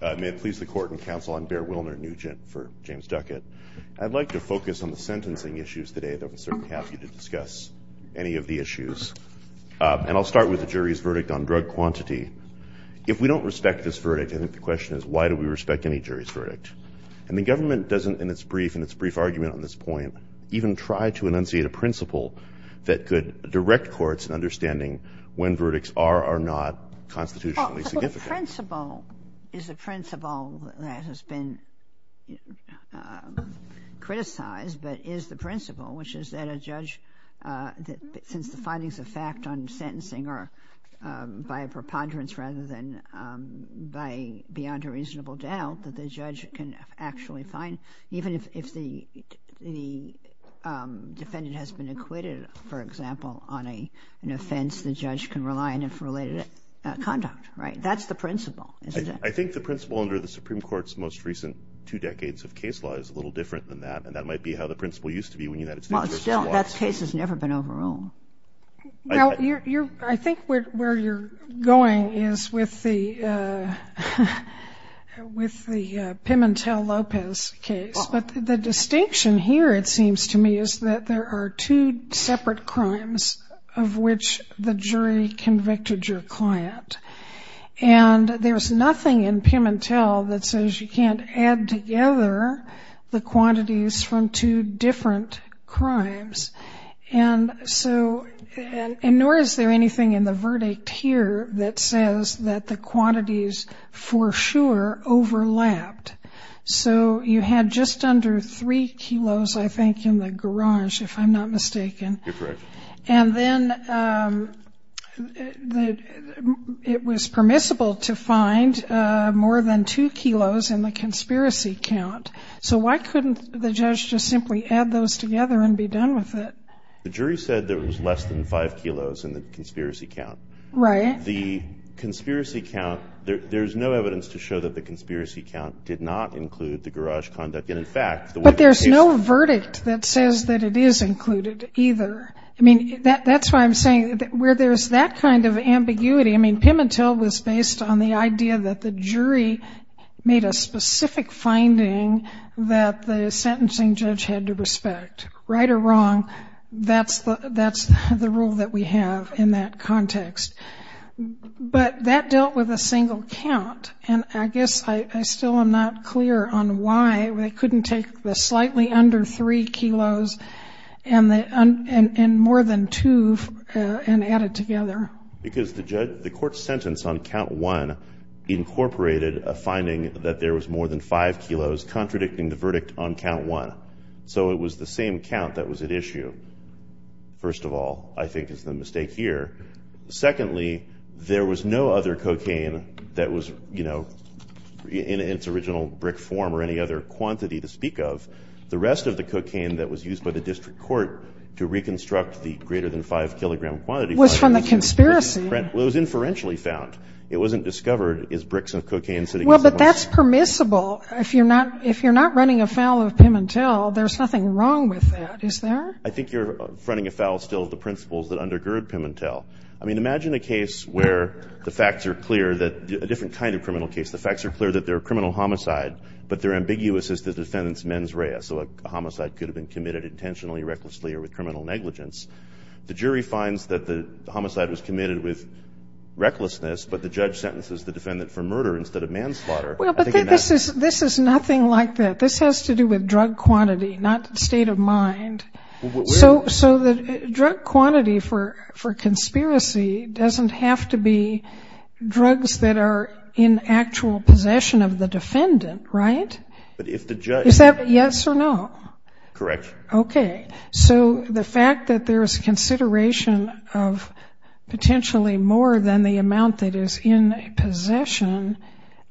May it please the Court and Counsel, I'm Bear Wilner, Nugent for James Duckett. I'd like to focus on the sentencing issues today, though I'm certainly happy to discuss any of the issues. And I'll start with the jury's verdict on drug quantity. If we don't respect this verdict, I think the question is, why do we respect any jury's verdict? And the government doesn't, in its brief argument on this point, even try to enunciate a principle that could direct courts in understanding when verdicts are or not constitutionally significant. The principle is a principle that has been criticized, but is the principle, which is that a judge, since the findings of fact on sentencing are by a preponderance rather than beyond a reasonable doubt, that the judge can actually find, even if the defendant has been acquitted, for example, on an offense, the judge can rely on it for related conduct, right? That's the principle, isn't it? I think the principle under the Supreme Court's most recent two decades of case law is a little different than that, and that might be how the principle used to be when you had it. Well, still, that case has never been overruled. Now, I think where you're going is with the Pimentel-Lopez case. But the distinction here, it seems to me, is that there are two separate crimes of which the jury convicted your client. And there's nothing in Pimentel that says you can't add together the quantities from two different crimes. And nor is there anything in the verdict here that says that the quantities for sure overlapped. So you had just under 3 kilos, I think, in the garage, if I'm not mistaken. You're correct. And then it was permissible to find more than 2 kilos in the conspiracy count. So why couldn't the judge just simply add those together and be done with it? The jury said there was less than 5 kilos in the conspiracy count. Right. And the conspiracy count, there's no evidence to show that the conspiracy count did not include the garage conduct. And, in fact, the way the case was found. But there's no verdict that says that it is included either. I mean, that's why I'm saying where there's that kind of ambiguity. I mean, Pimentel was based on the idea that the jury made a specific finding that the sentencing judge had to respect. Right or wrong, that's the rule that we have in that context. But that dealt with a single count. And I guess I still am not clear on why they couldn't take the slightly under 3 kilos and more than 2 and add it together. Because the court's sentence on count 1 incorporated a finding that there was more than 5 kilos contradicting the verdict on count 1. So it was the same count that was at issue, first of all, I think is the mistake here. Secondly, there was no other cocaine that was, you know, in its original brick form or any other quantity to speak of. The rest of the cocaine that was used by the district court to reconstruct the greater than 5-kilogram quantity. Was from the conspiracy. Well, it was inferentially found. Well, but that's permissible. If you're not running afoul of Pimentel, there's nothing wrong with that, is there? I think you're running afoul still of the principles that undergird Pimentel. I mean, imagine a case where the facts are clear, a different kind of criminal case. The facts are clear that they're a criminal homicide, but they're ambiguous as the defendant's mens rea. So a homicide could have been committed intentionally, recklessly, or with criminal negligence. The jury finds that the homicide was committed with recklessness, but the judge sentences the defendant for murder instead of manslaughter. Well, but this is nothing like that. This has to do with drug quantity, not state of mind. So the drug quantity for conspiracy doesn't have to be drugs that are in actual possession of the defendant, right? But if the judge. Is that yes or no? Correct. Okay. So the fact that there's consideration of potentially more than the amount that is in possession,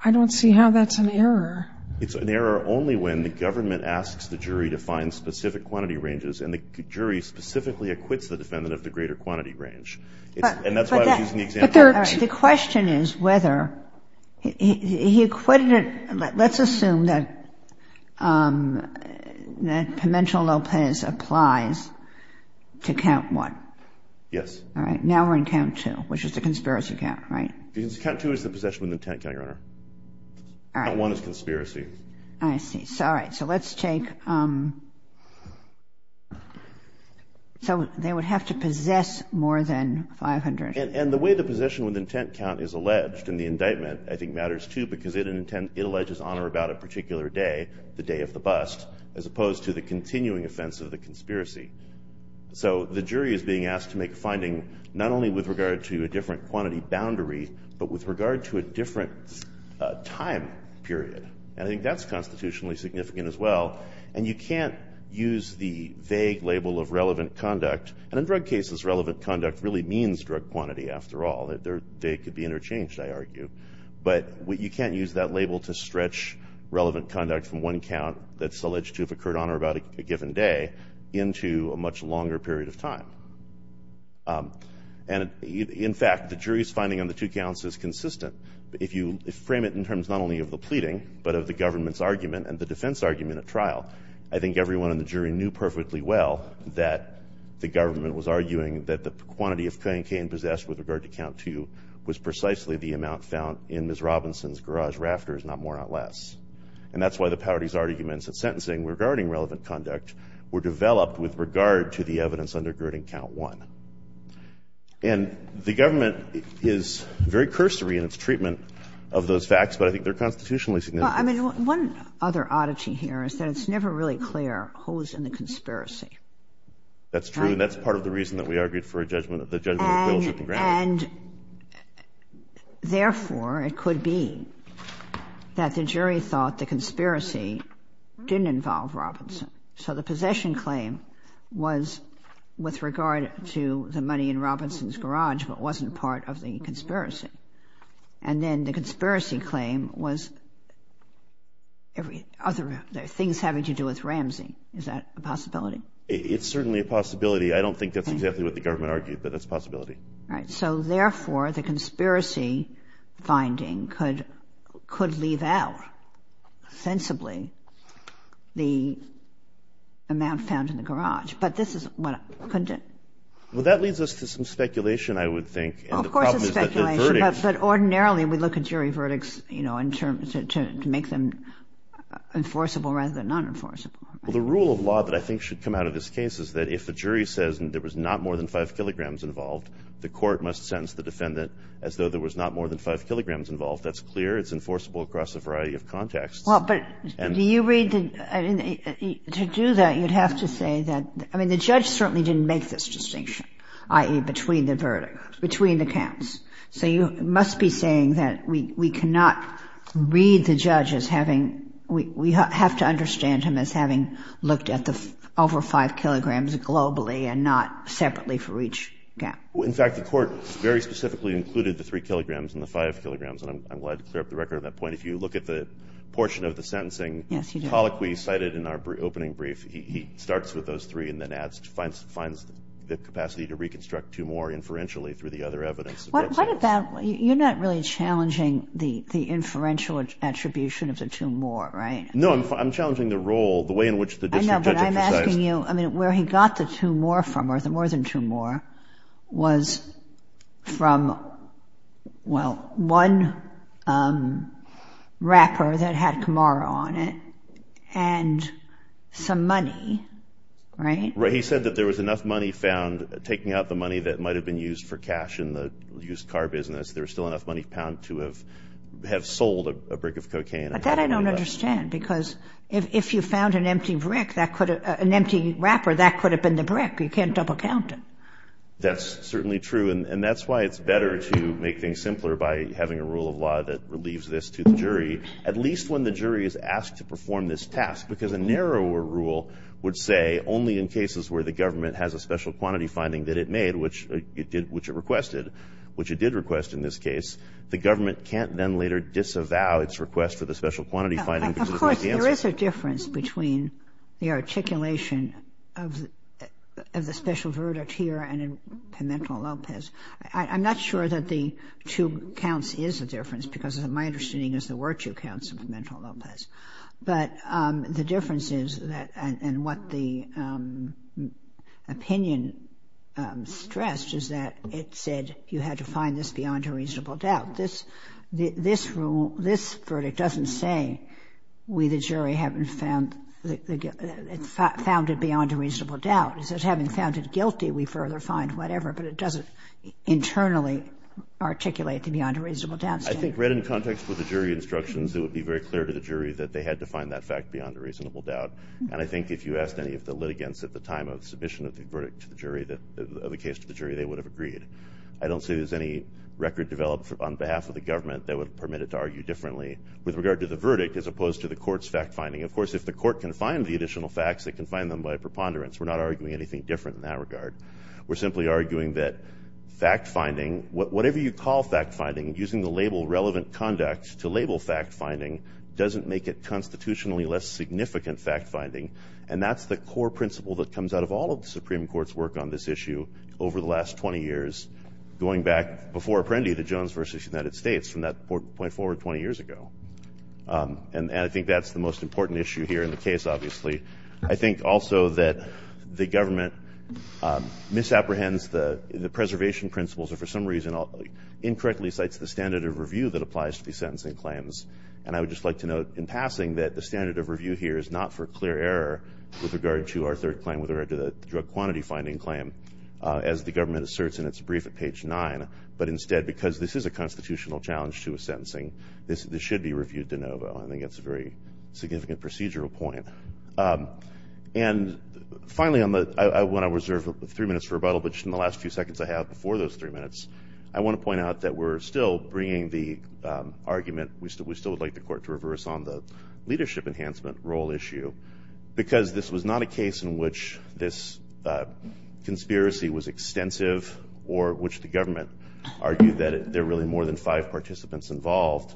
I don't see how that's an error. It's an error only when the government asks the jury to find specific quantity ranges, and the jury specifically acquits the defendant of the greater quantity range. And that's why I was using the example. The question is whether he acquitted. Let's assume that that Pimentel-Lopez applies to count one. Yes. All right. Now we're in count two, which is the conspiracy count, right? Because count two is the possession with intent, Your Honor. All right. Count one is conspiracy. I see. All right. So let's take. So they would have to possess more than 500. And the way the possession with intent count is alleged in the indictment I think matters, too, because it alleges honor about a particular day, the day of the bust, as opposed to the continuing offense of the conspiracy. So the jury is being asked to make a finding not only with regard to a different quantity boundary, but with regard to a different time period. And I think that's constitutionally significant as well. And you can't use the vague label of relevant conduct. And in drug cases, relevant conduct really means drug quantity after all. They could be interchanged, I argue. But you can't use that label to stretch relevant conduct from one count that's alleged to have occurred on or about a given day into a much longer period of time. And, in fact, the jury's finding on the two counts is consistent. If you frame it in terms not only of the pleading but of the government's argument and the defense argument at trial, I think everyone in the jury knew perfectly well that the government was arguing that the quantity of cocaine possessed with regard to count two was precisely the amount found in Ms. Robinson's garage rafters, not more, not less. And that's why the party's arguments at sentencing regarding relevant conduct were developed with regard to the evidence undergirding count one. And the government is very cursory in its treatment of those facts, but I think they're constitutionally significant. Well, I mean, one other oddity here is that it's never really clear who was in the conspiracy. That's true. And that's part of the reason that we argued for the judgment of bailiff and grounds. And, therefore, it could be that the jury thought the conspiracy didn't involve Robinson. So the possession claim was with regard to the money in Robinson's garage but wasn't part of the conspiracy. And then the conspiracy claim was other things having to do with Ramsey. Is that a possibility? It's certainly a possibility. I don't think that's exactly what the government argued, but that's a possibility. All right. So, therefore, the conspiracy finding could leave out sensibly the amount found in the garage. But this is what happened. Well, that leads us to some speculation, I would think. Well, of course it's speculation. But ordinarily we look at jury verdicts, you know, to make them enforceable rather than non-enforceable. Well, the rule of law that I think should come out of this case is that if the jury says there was not more than 5 kilograms involved, the court must sentence the defendant as though there was not more than 5 kilograms involved. That's clear. It's enforceable across a variety of contexts. Well, but do you read the – to do that, you'd have to say that – I mean, the judge certainly didn't make this distinction, i.e., between the verdicts, between the counts. So you must be saying that we cannot read the judge as having – we have to understand him as having looked at the over 5 kilograms globally and not separately for each count. In fact, the court very specifically included the 3 kilograms and the 5 kilograms, and I'm glad to clear up the record on that point. If you look at the portion of the sentencing colloquy cited in our opening brief, he starts with those 3 and then adds – finds the capacity to reconstruct 2 more inferentially through the other evidence. What about – you're not really challenging the inferential attribution of the 2 more, right? No, I'm challenging the role, the way in which the district judge exercised – I know, but I'm asking you – I mean, where he got the 2 more from, or the more than 2 more, was from, well, one wrapper that had Camaro on it and some money, right? Right. He said that there was enough money found taking out the money that might have been used for cash in the used car business. There was still enough money found to have sold a brick of cocaine. But that I don't understand, because if you found an empty brick that could have – That's certainly true, and that's why it's better to make things simpler by having a rule of law that relieves this to the jury, at least when the jury is asked to perform this task, because a narrower rule would say only in cases where the government has a special quantity finding that it made, which it requested, which it did request in this case, the government can't then later disavow its request for the special quantity finding because it missed the answer. There is a difference between the articulation of the special verdict here and in Pimentel-Lopez. I'm not sure that the 2 counts is a difference, because my understanding is there were 2 counts in Pimentel-Lopez. But the difference is that – and what the opinion stressed is that it said you had to find this beyond a reasonable doubt. But this rule, this verdict doesn't say we, the jury, haven't found it beyond a reasonable doubt. It says having found it guilty, we further find whatever. But it doesn't internally articulate the beyond a reasonable doubt statement. I think read in context with the jury instructions, it would be very clear to the jury that they had to find that fact beyond a reasonable doubt. And I think if you asked any of the litigants at the time of submission of the verdict to the jury, of the case to the jury, they would have agreed. I don't see there's any record developed on behalf of the government that would permit it to argue differently with regard to the verdict as opposed to the court's fact-finding. Of course, if the court can find the additional facts, it can find them by preponderance. We're not arguing anything different in that regard. We're simply arguing that fact-finding, whatever you call fact-finding, using the label relevant conduct to label fact-finding doesn't make it constitutionally less significant fact-finding. And that's the core principle that comes out of all of the Supreme Court's work on this issue over the last 20 years, going back before Apprendi to Jones v. United States from that point forward 20 years ago. And I think that's the most important issue here in the case, obviously. I think also that the government misapprehends the preservation principles or for some reason incorrectly cites the standard of review that applies to these sentencing claims. And I would just like to note in passing that the standard of review here is not for clear error with regard to our third claim, with regard to the drug quantity finding claim, as the government asserts in its brief at page 9. But instead, because this is a constitutional challenge to a sentencing, this should be reviewed de novo. I think that's a very significant procedural point. And finally, I want to reserve three minutes for rebuttal, but just in the last few seconds I have before those three minutes, I want to point out that we're still bringing the argument, we still would like the court to reverse on the leadership enhancement role issue, because this was not a case in which this conspiracy was extensive or which the government argued that there were really more than five participants involved,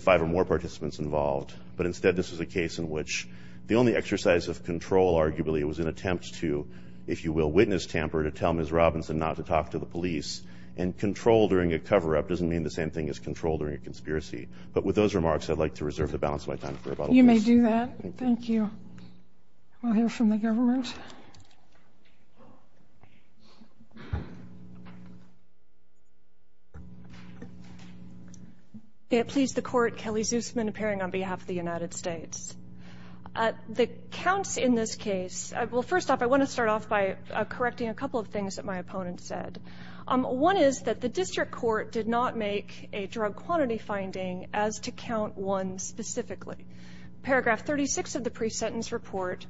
five or more participants involved. But instead, this was a case in which the only exercise of control, arguably, was an attempt to, if you will, witness tamper, to tell Ms. Robinson not to talk to the police. And control during a cover-up doesn't mean the same thing as control during a conspiracy. But with those remarks, I'd like to reserve the balance of my time for rebuttal. You may do that. Thank you. We'll hear from the government. May it please the Court, Kelly Zusman, appearing on behalf of the United States. The counts in this case, well, first off, I want to start off by correcting a couple of things that my opponent said. One is that the district court did not make a drug quantity finding as to count one specifically. Paragraph 36 of the pre-sentence report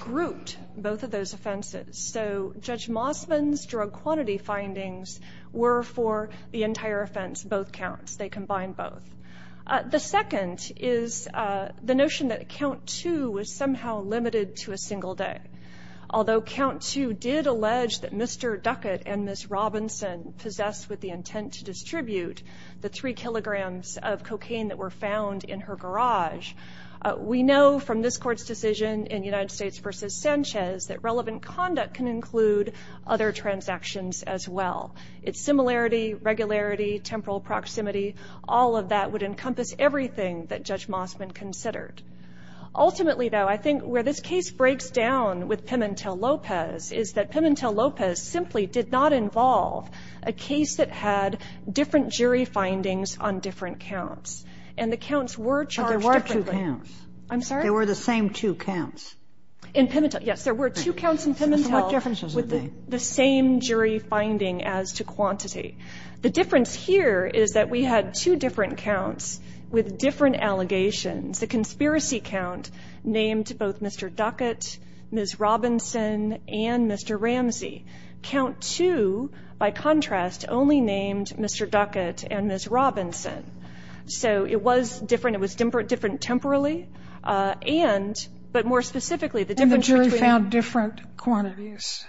grouped both of those offenses. So Judge Mossman's drug quantity findings were for the entire offense, both counts. They combined both. The second is the notion that count two was somehow limited to a single day. Although count two did allege that Mr. Duckett and Ms. Robinson possessed with the intent to distribute the three kilograms of cocaine that were found in her garage, we know from this Court's decision in United States v. Sanchez that relevant conduct can include other transactions as well. Its similarity, regularity, temporal proximity, all of that would encompass everything that Judge Mossman considered. Ultimately, though, I think where this case breaks down with Pimentel-Lopez is that Pimentel-Lopez simply did not involve a case that had different jury findings on different counts. And the counts were charged differently. But there were two counts. I'm sorry? There were the same two counts. In Pimentel. Yes, there were two counts in Pimentel. What differences are they? The same jury finding as to quantity. The difference here is that we had two different counts with different allegations. The conspiracy count named both Mr. Duckett, Ms. Robinson, and Mr. Ramsey. Count two, by contrast, only named Mr. Duckett and Ms. Robinson. So it was different. It was different temporally. And, but more specifically, the difference between And the jury found different quantities.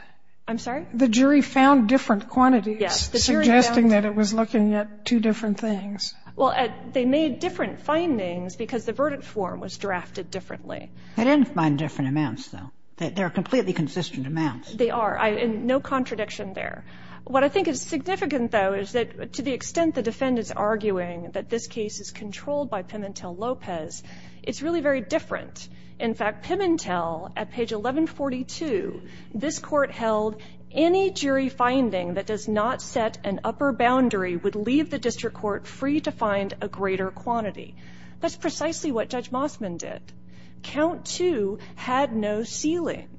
I'm sorry? The jury found different quantities. Yes. The jury found. Suggesting that it was looking at two different things. Well, they made different findings because the verdict form was drafted differently. They didn't find different amounts, though. They're completely consistent amounts. They are. And no contradiction there. What I think is significant, though, is that to the extent the defendant's arguing that this case is controlled by Pimentel-Lopez, it's really very different. In fact, Pimentel, at page 1142, this court held, any jury finding that does not set an upper boundary would leave the district court free to find a greater quantity. That's precisely what Judge Mossman did. Count two had no ceiling.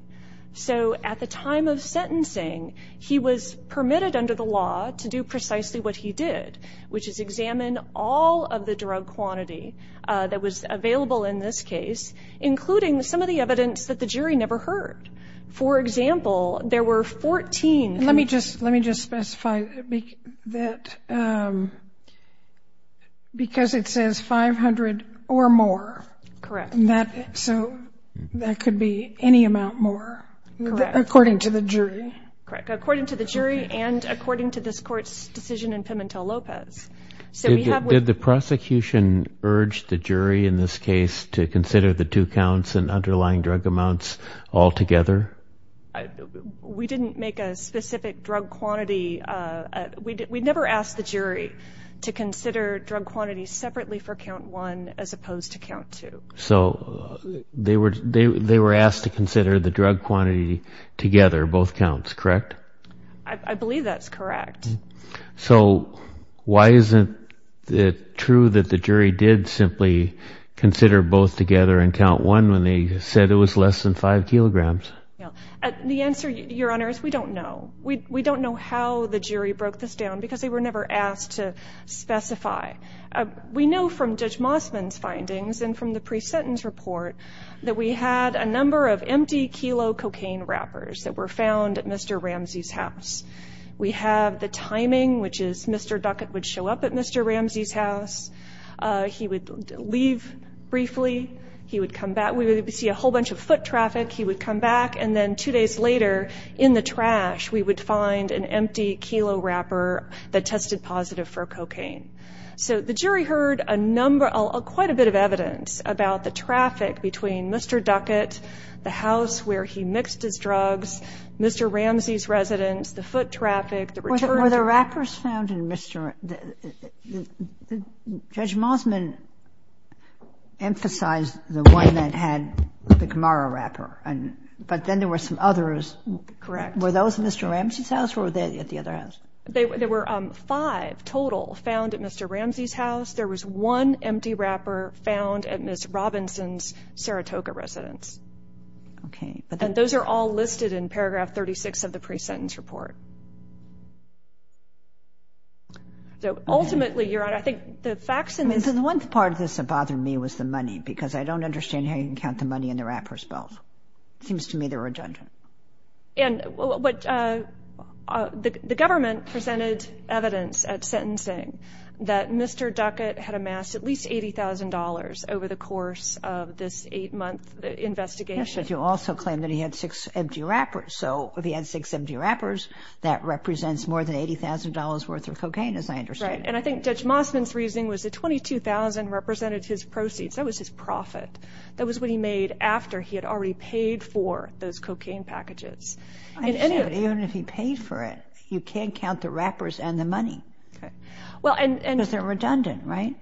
So at the time of sentencing, he was permitted under the law to do precisely what he did, which is examine all of the drug quantity that was available in this case, including some of the evidence that the jury never heard. For example, there were 14. Let me just specify that because it says 500 or more. Correct. So that could be any amount more. Correct. According to the jury. Correct. According to the jury and according to this court's decision in Pimentel-Lopez. Did the prosecution urge the jury in this case to consider the two counts and underlying drug amounts all together? We didn't make a specific drug quantity. We never asked the jury to consider drug quantity separately for count one as opposed to count two. So they were asked to consider the drug quantity together, both counts, correct? I believe that's correct. So why isn't it true that the jury did simply consider both together in count one when they said it was less than five kilograms? The answer, Your Honor, is we don't know. We don't know how the jury broke this down because they were never asked to specify. We know from Judge Mossman's findings and from the pre-sentence report that we had a number of empty kilo cocaine wrappers that were found at Mr. Ramsey's house. We have the timing, which is Mr. Duckett would show up at Mr. Ramsey's house. He would leave briefly. He would come back. We would see a whole bunch of foot traffic. He would come back, and then two days later, in the trash, we would find an empty kilo wrapper that tested positive for cocaine. So the jury heard quite a bit of evidence about the traffic between Mr. Duckett, the house where he mixed his drugs, Mr. Ramsey's residence, the foot traffic, the return. Were the wrappers found in Mr. — Judge Mossman emphasized the one that had the Camaro wrapper, but then there were some others. Correct. Were those at Mr. Ramsey's house or were they at the other house? There were five total found at Mr. Ramsey's house. There was one empty wrapper found at Ms. Robinson's Saratoga residence. Okay. And those are all listed in paragraph 36 of the pre-sentence report. So ultimately, Your Honor, I think the facts — I mean, the one part of this that bothered me was the money because I don't understand how you can count the money in the wrapper spells. It seems to me they're redundant. And the government presented evidence at sentencing that Mr. Duckett had amassed at least $80,000 over the course of this eight-month investigation. Yes, but you also claim that he had six empty wrappers. So if he had six empty wrappers, that represents more than $80,000 worth of cocaine, as I understand it. Right, and I think Judge Mossman's reasoning was that $22,000 represented his proceeds. That was his profit. That was what he made after he had already paid for those cocaine packages. Even if he paid for it, you can't count the wrappers and the money because they're redundant, right?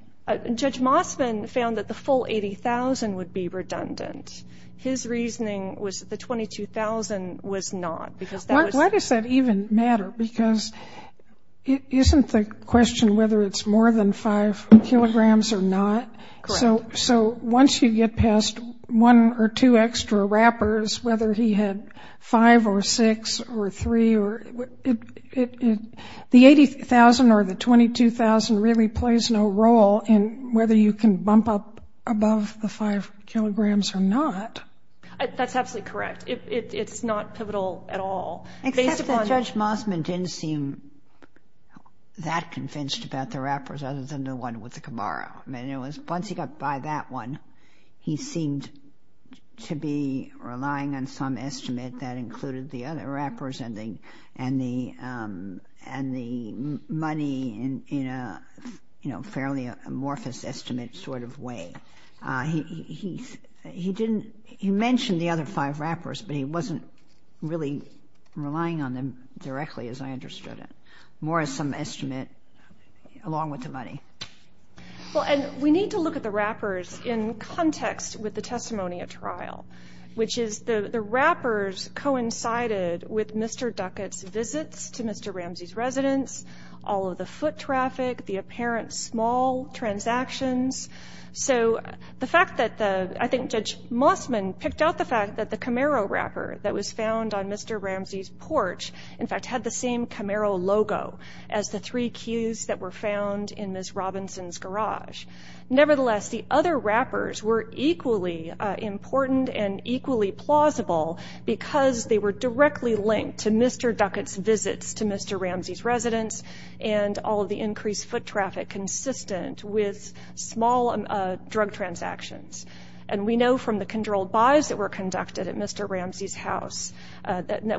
Judge Mossman found that the full $80,000 would be redundant. His reasoning was that the $22,000 was not because that was — Why does that even matter? Because isn't the question whether it's more than five kilograms or not? Correct. So once you get past one or two extra wrappers, whether he had five or six or three, the $80,000 or the $22,000 really plays no role in whether you can bump up above the five kilograms or not. That's absolutely correct. It's not pivotal at all. Except that Judge Mossman didn't seem that convinced about the wrappers other than the one with the Camaro. Once he got by that one, he seemed to be relying on some estimate that included the other wrappers and the money in a fairly amorphous estimate sort of way. He mentioned the other five wrappers, but he wasn't really relying on them directly as I understood it. More as some estimate along with the money. Well, and we need to look at the wrappers in context with the testimony at trial, which is the wrappers coincided with Mr. Duckett's visits to Mr. Ramsey's residence, all of the foot traffic, the apparent small transactions. So the fact that the — I think Judge Mossman picked out the fact that the Camaro wrapper that was found on Mr. Ramsey's porch, in fact, had the same Camaro logo as the three cues that were found in Ms. Robinson's garage. Nevertheless, the other wrappers were equally important and equally plausible because they were directly linked to Mr. Duckett's visits to Mr. Ramsey's residence and all of the increased foot traffic consistent with small drug transactions. And we know from the controlled buys that were conducted at Mr. Ramsey's house that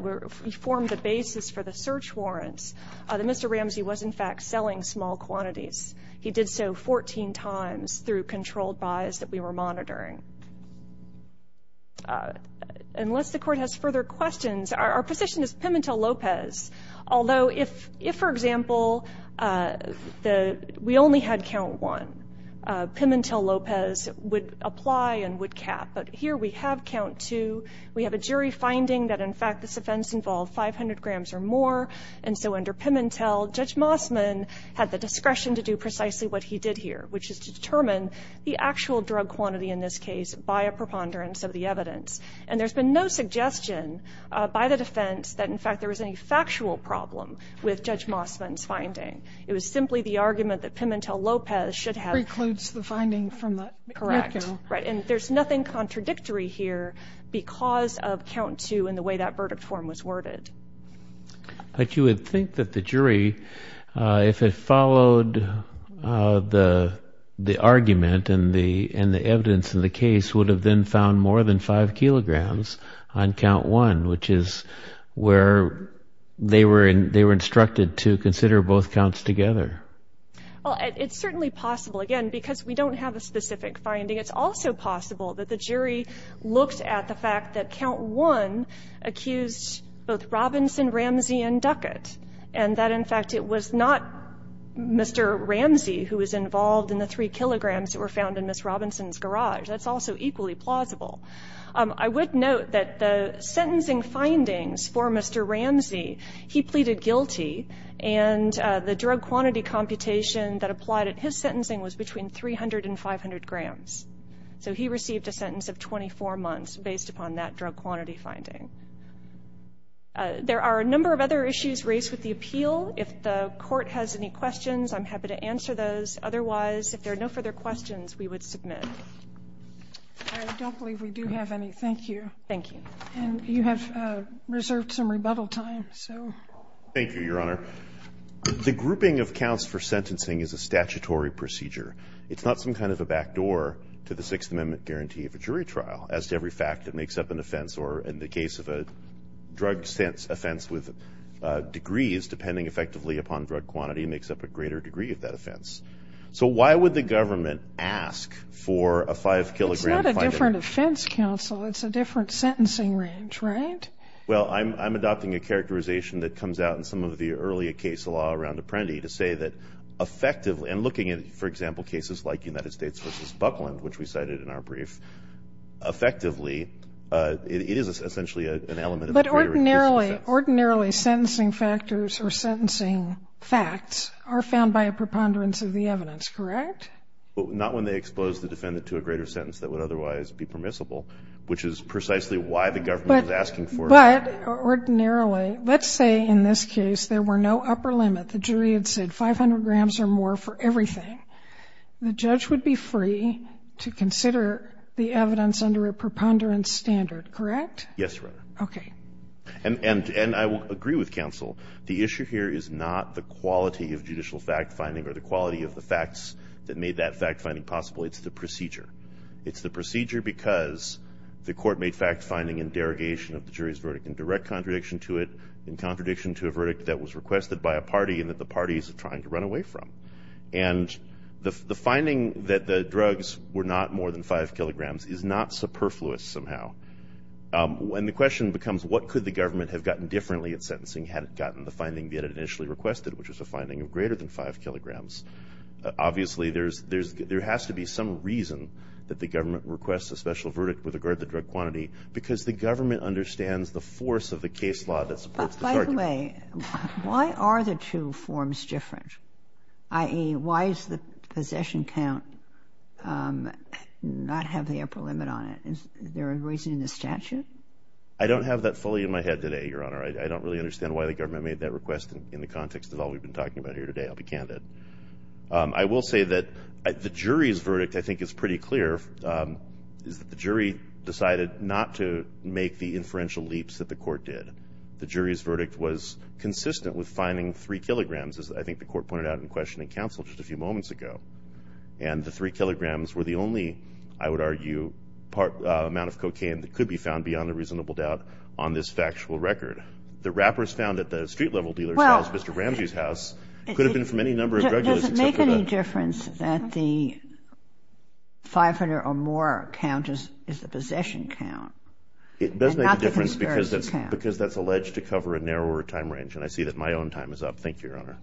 formed the basis for the search warrants that Mr. Ramsey was, in fact, selling small quantities. He did so 14 times through controlled buys that we were monitoring. Unless the Court has further questions, our position is Pimentel-Lopez, although if, for example, we only had count one, Pimentel-Lopez would apply and would cap. But here we have count two. We have a jury finding that, in fact, this offense involved 500 grams or more. And so under Pimentel, Judge Mossman had the discretion to do precisely what he did here, which is to determine the actual drug quantity in this case by a preponderance of the evidence. And there's been no suggestion by the defense that, in fact, there was any factual problem with Judge Mossman's finding. It was simply the argument that Pimentel-Lopez should have — Precludes the finding from the — Correct. Right, and there's nothing contradictory here because of count two and the way that verdict form was worded. But you would think that the jury, if it followed the argument and the evidence in the case, would have then found more than five kilograms on count one, which is where they were instructed to consider both counts together. Well, it's certainly possible, again, because we don't have a specific finding. It's also possible that the jury looked at the fact that count one accused both Robinson, Ramsey, and Duckett, and that, in fact, it was not Mr. Ramsey who was involved in the three kilograms that were found in Ms. Robinson's garage. That's also equally plausible. I would note that the sentencing findings for Mr. Ramsey, he pleaded guilty, and the drug quantity computation that applied at his sentencing was between 300 and 500 grams. So he received a sentence of 24 months based upon that drug quantity finding. There are a number of other issues raised with the appeal. If the court has any questions, I'm happy to answer those. Otherwise, if there are no further questions, we would submit. I don't believe we do have any. Thank you. Thank you. And you have reserved some rebuttal time, so. Thank you, Your Honor. The grouping of counts for sentencing is a statutory procedure. It's not some kind of a backdoor to the Sixth Amendment guarantee of a jury trial. As to every fact that makes up an offense, or in the case of a drug offense with degrees, depending effectively upon drug quantity, makes up a greater degree of that offense. So why would the government ask for a five-kilogram finding? It's not a different offense, counsel. It's a different sentencing range, right? Well, I'm adopting a characterization that comes out in some of the earlier case law around Apprendi to say that effectively, and looking at, for example, cases like United States v. Buckland, which we cited in our brief, effectively, it is essentially an element of a greater degree. But ordinarily, ordinarily, sentencing factors or sentencing facts are found by a preponderance of the evidence, correct? Not when they expose the defendant to a greater sentence that would otherwise be permissible, which is precisely why the government is asking for it. But ordinarily, let's say in this case there were no upper limit. The jury had said 500 grams or more for everything. The judge would be free to consider the evidence under a preponderance standard, correct? Yes, Your Honor. Okay. And I will agree with counsel. The issue here is not the quality of judicial fact-finding or the quality of the facts that made that fact-finding possible. It's the procedure. It's the procedure because the court made fact-finding and derogation of the jury's verdict in direct contradiction to it, in contradiction to a verdict that was requested by a party and that the party is trying to run away from. And the finding that the drugs were not more than 5 kilograms is not superfluous somehow. And the question becomes, what could the government have gotten differently in sentencing had it gotten the finding that it initially requested, which was a finding of greater than 5 kilograms? Obviously, there has to be some reason that the government requests a special verdict with regard to drug quantity because the government understands the force of the case law that supports the target. By the way, why are the two forms different? I.e., why does the possession count not have the upper limit on it? Is there a reason in the statute? I don't have that fully in my head today, Your Honor. I don't really understand why the government made that request in the context of all we've been talking about here today. I'll be candid. I will say that the jury's verdict, I think, is pretty clear, is that the jury decided not to make the inferential leaps that the court did. The jury's verdict was consistent with finding 3 kilograms, as I think the court pointed out in questioning counsel just a few moments ago. And the 3 kilograms were the only, I would argue, amount of cocaine that could be found, beyond a reasonable doubt, on this factual record. The wrappers found at the street-level dealer's house, Mr. Ramsey's house, could have been from any number of drug dealers. Does it make any difference that the 500 or more count is the possession count? It does make a difference because that's alleged to cover a narrower time range, and I see that my own time is up. Thank you, Your Honor.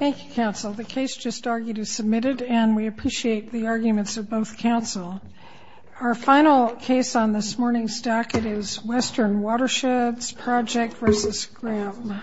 Thank you, counsel. The case just argued is submitted, and we appreciate the arguments of both counsel. Our final case on this morning's docket is Western Watersheds Project v. Graham.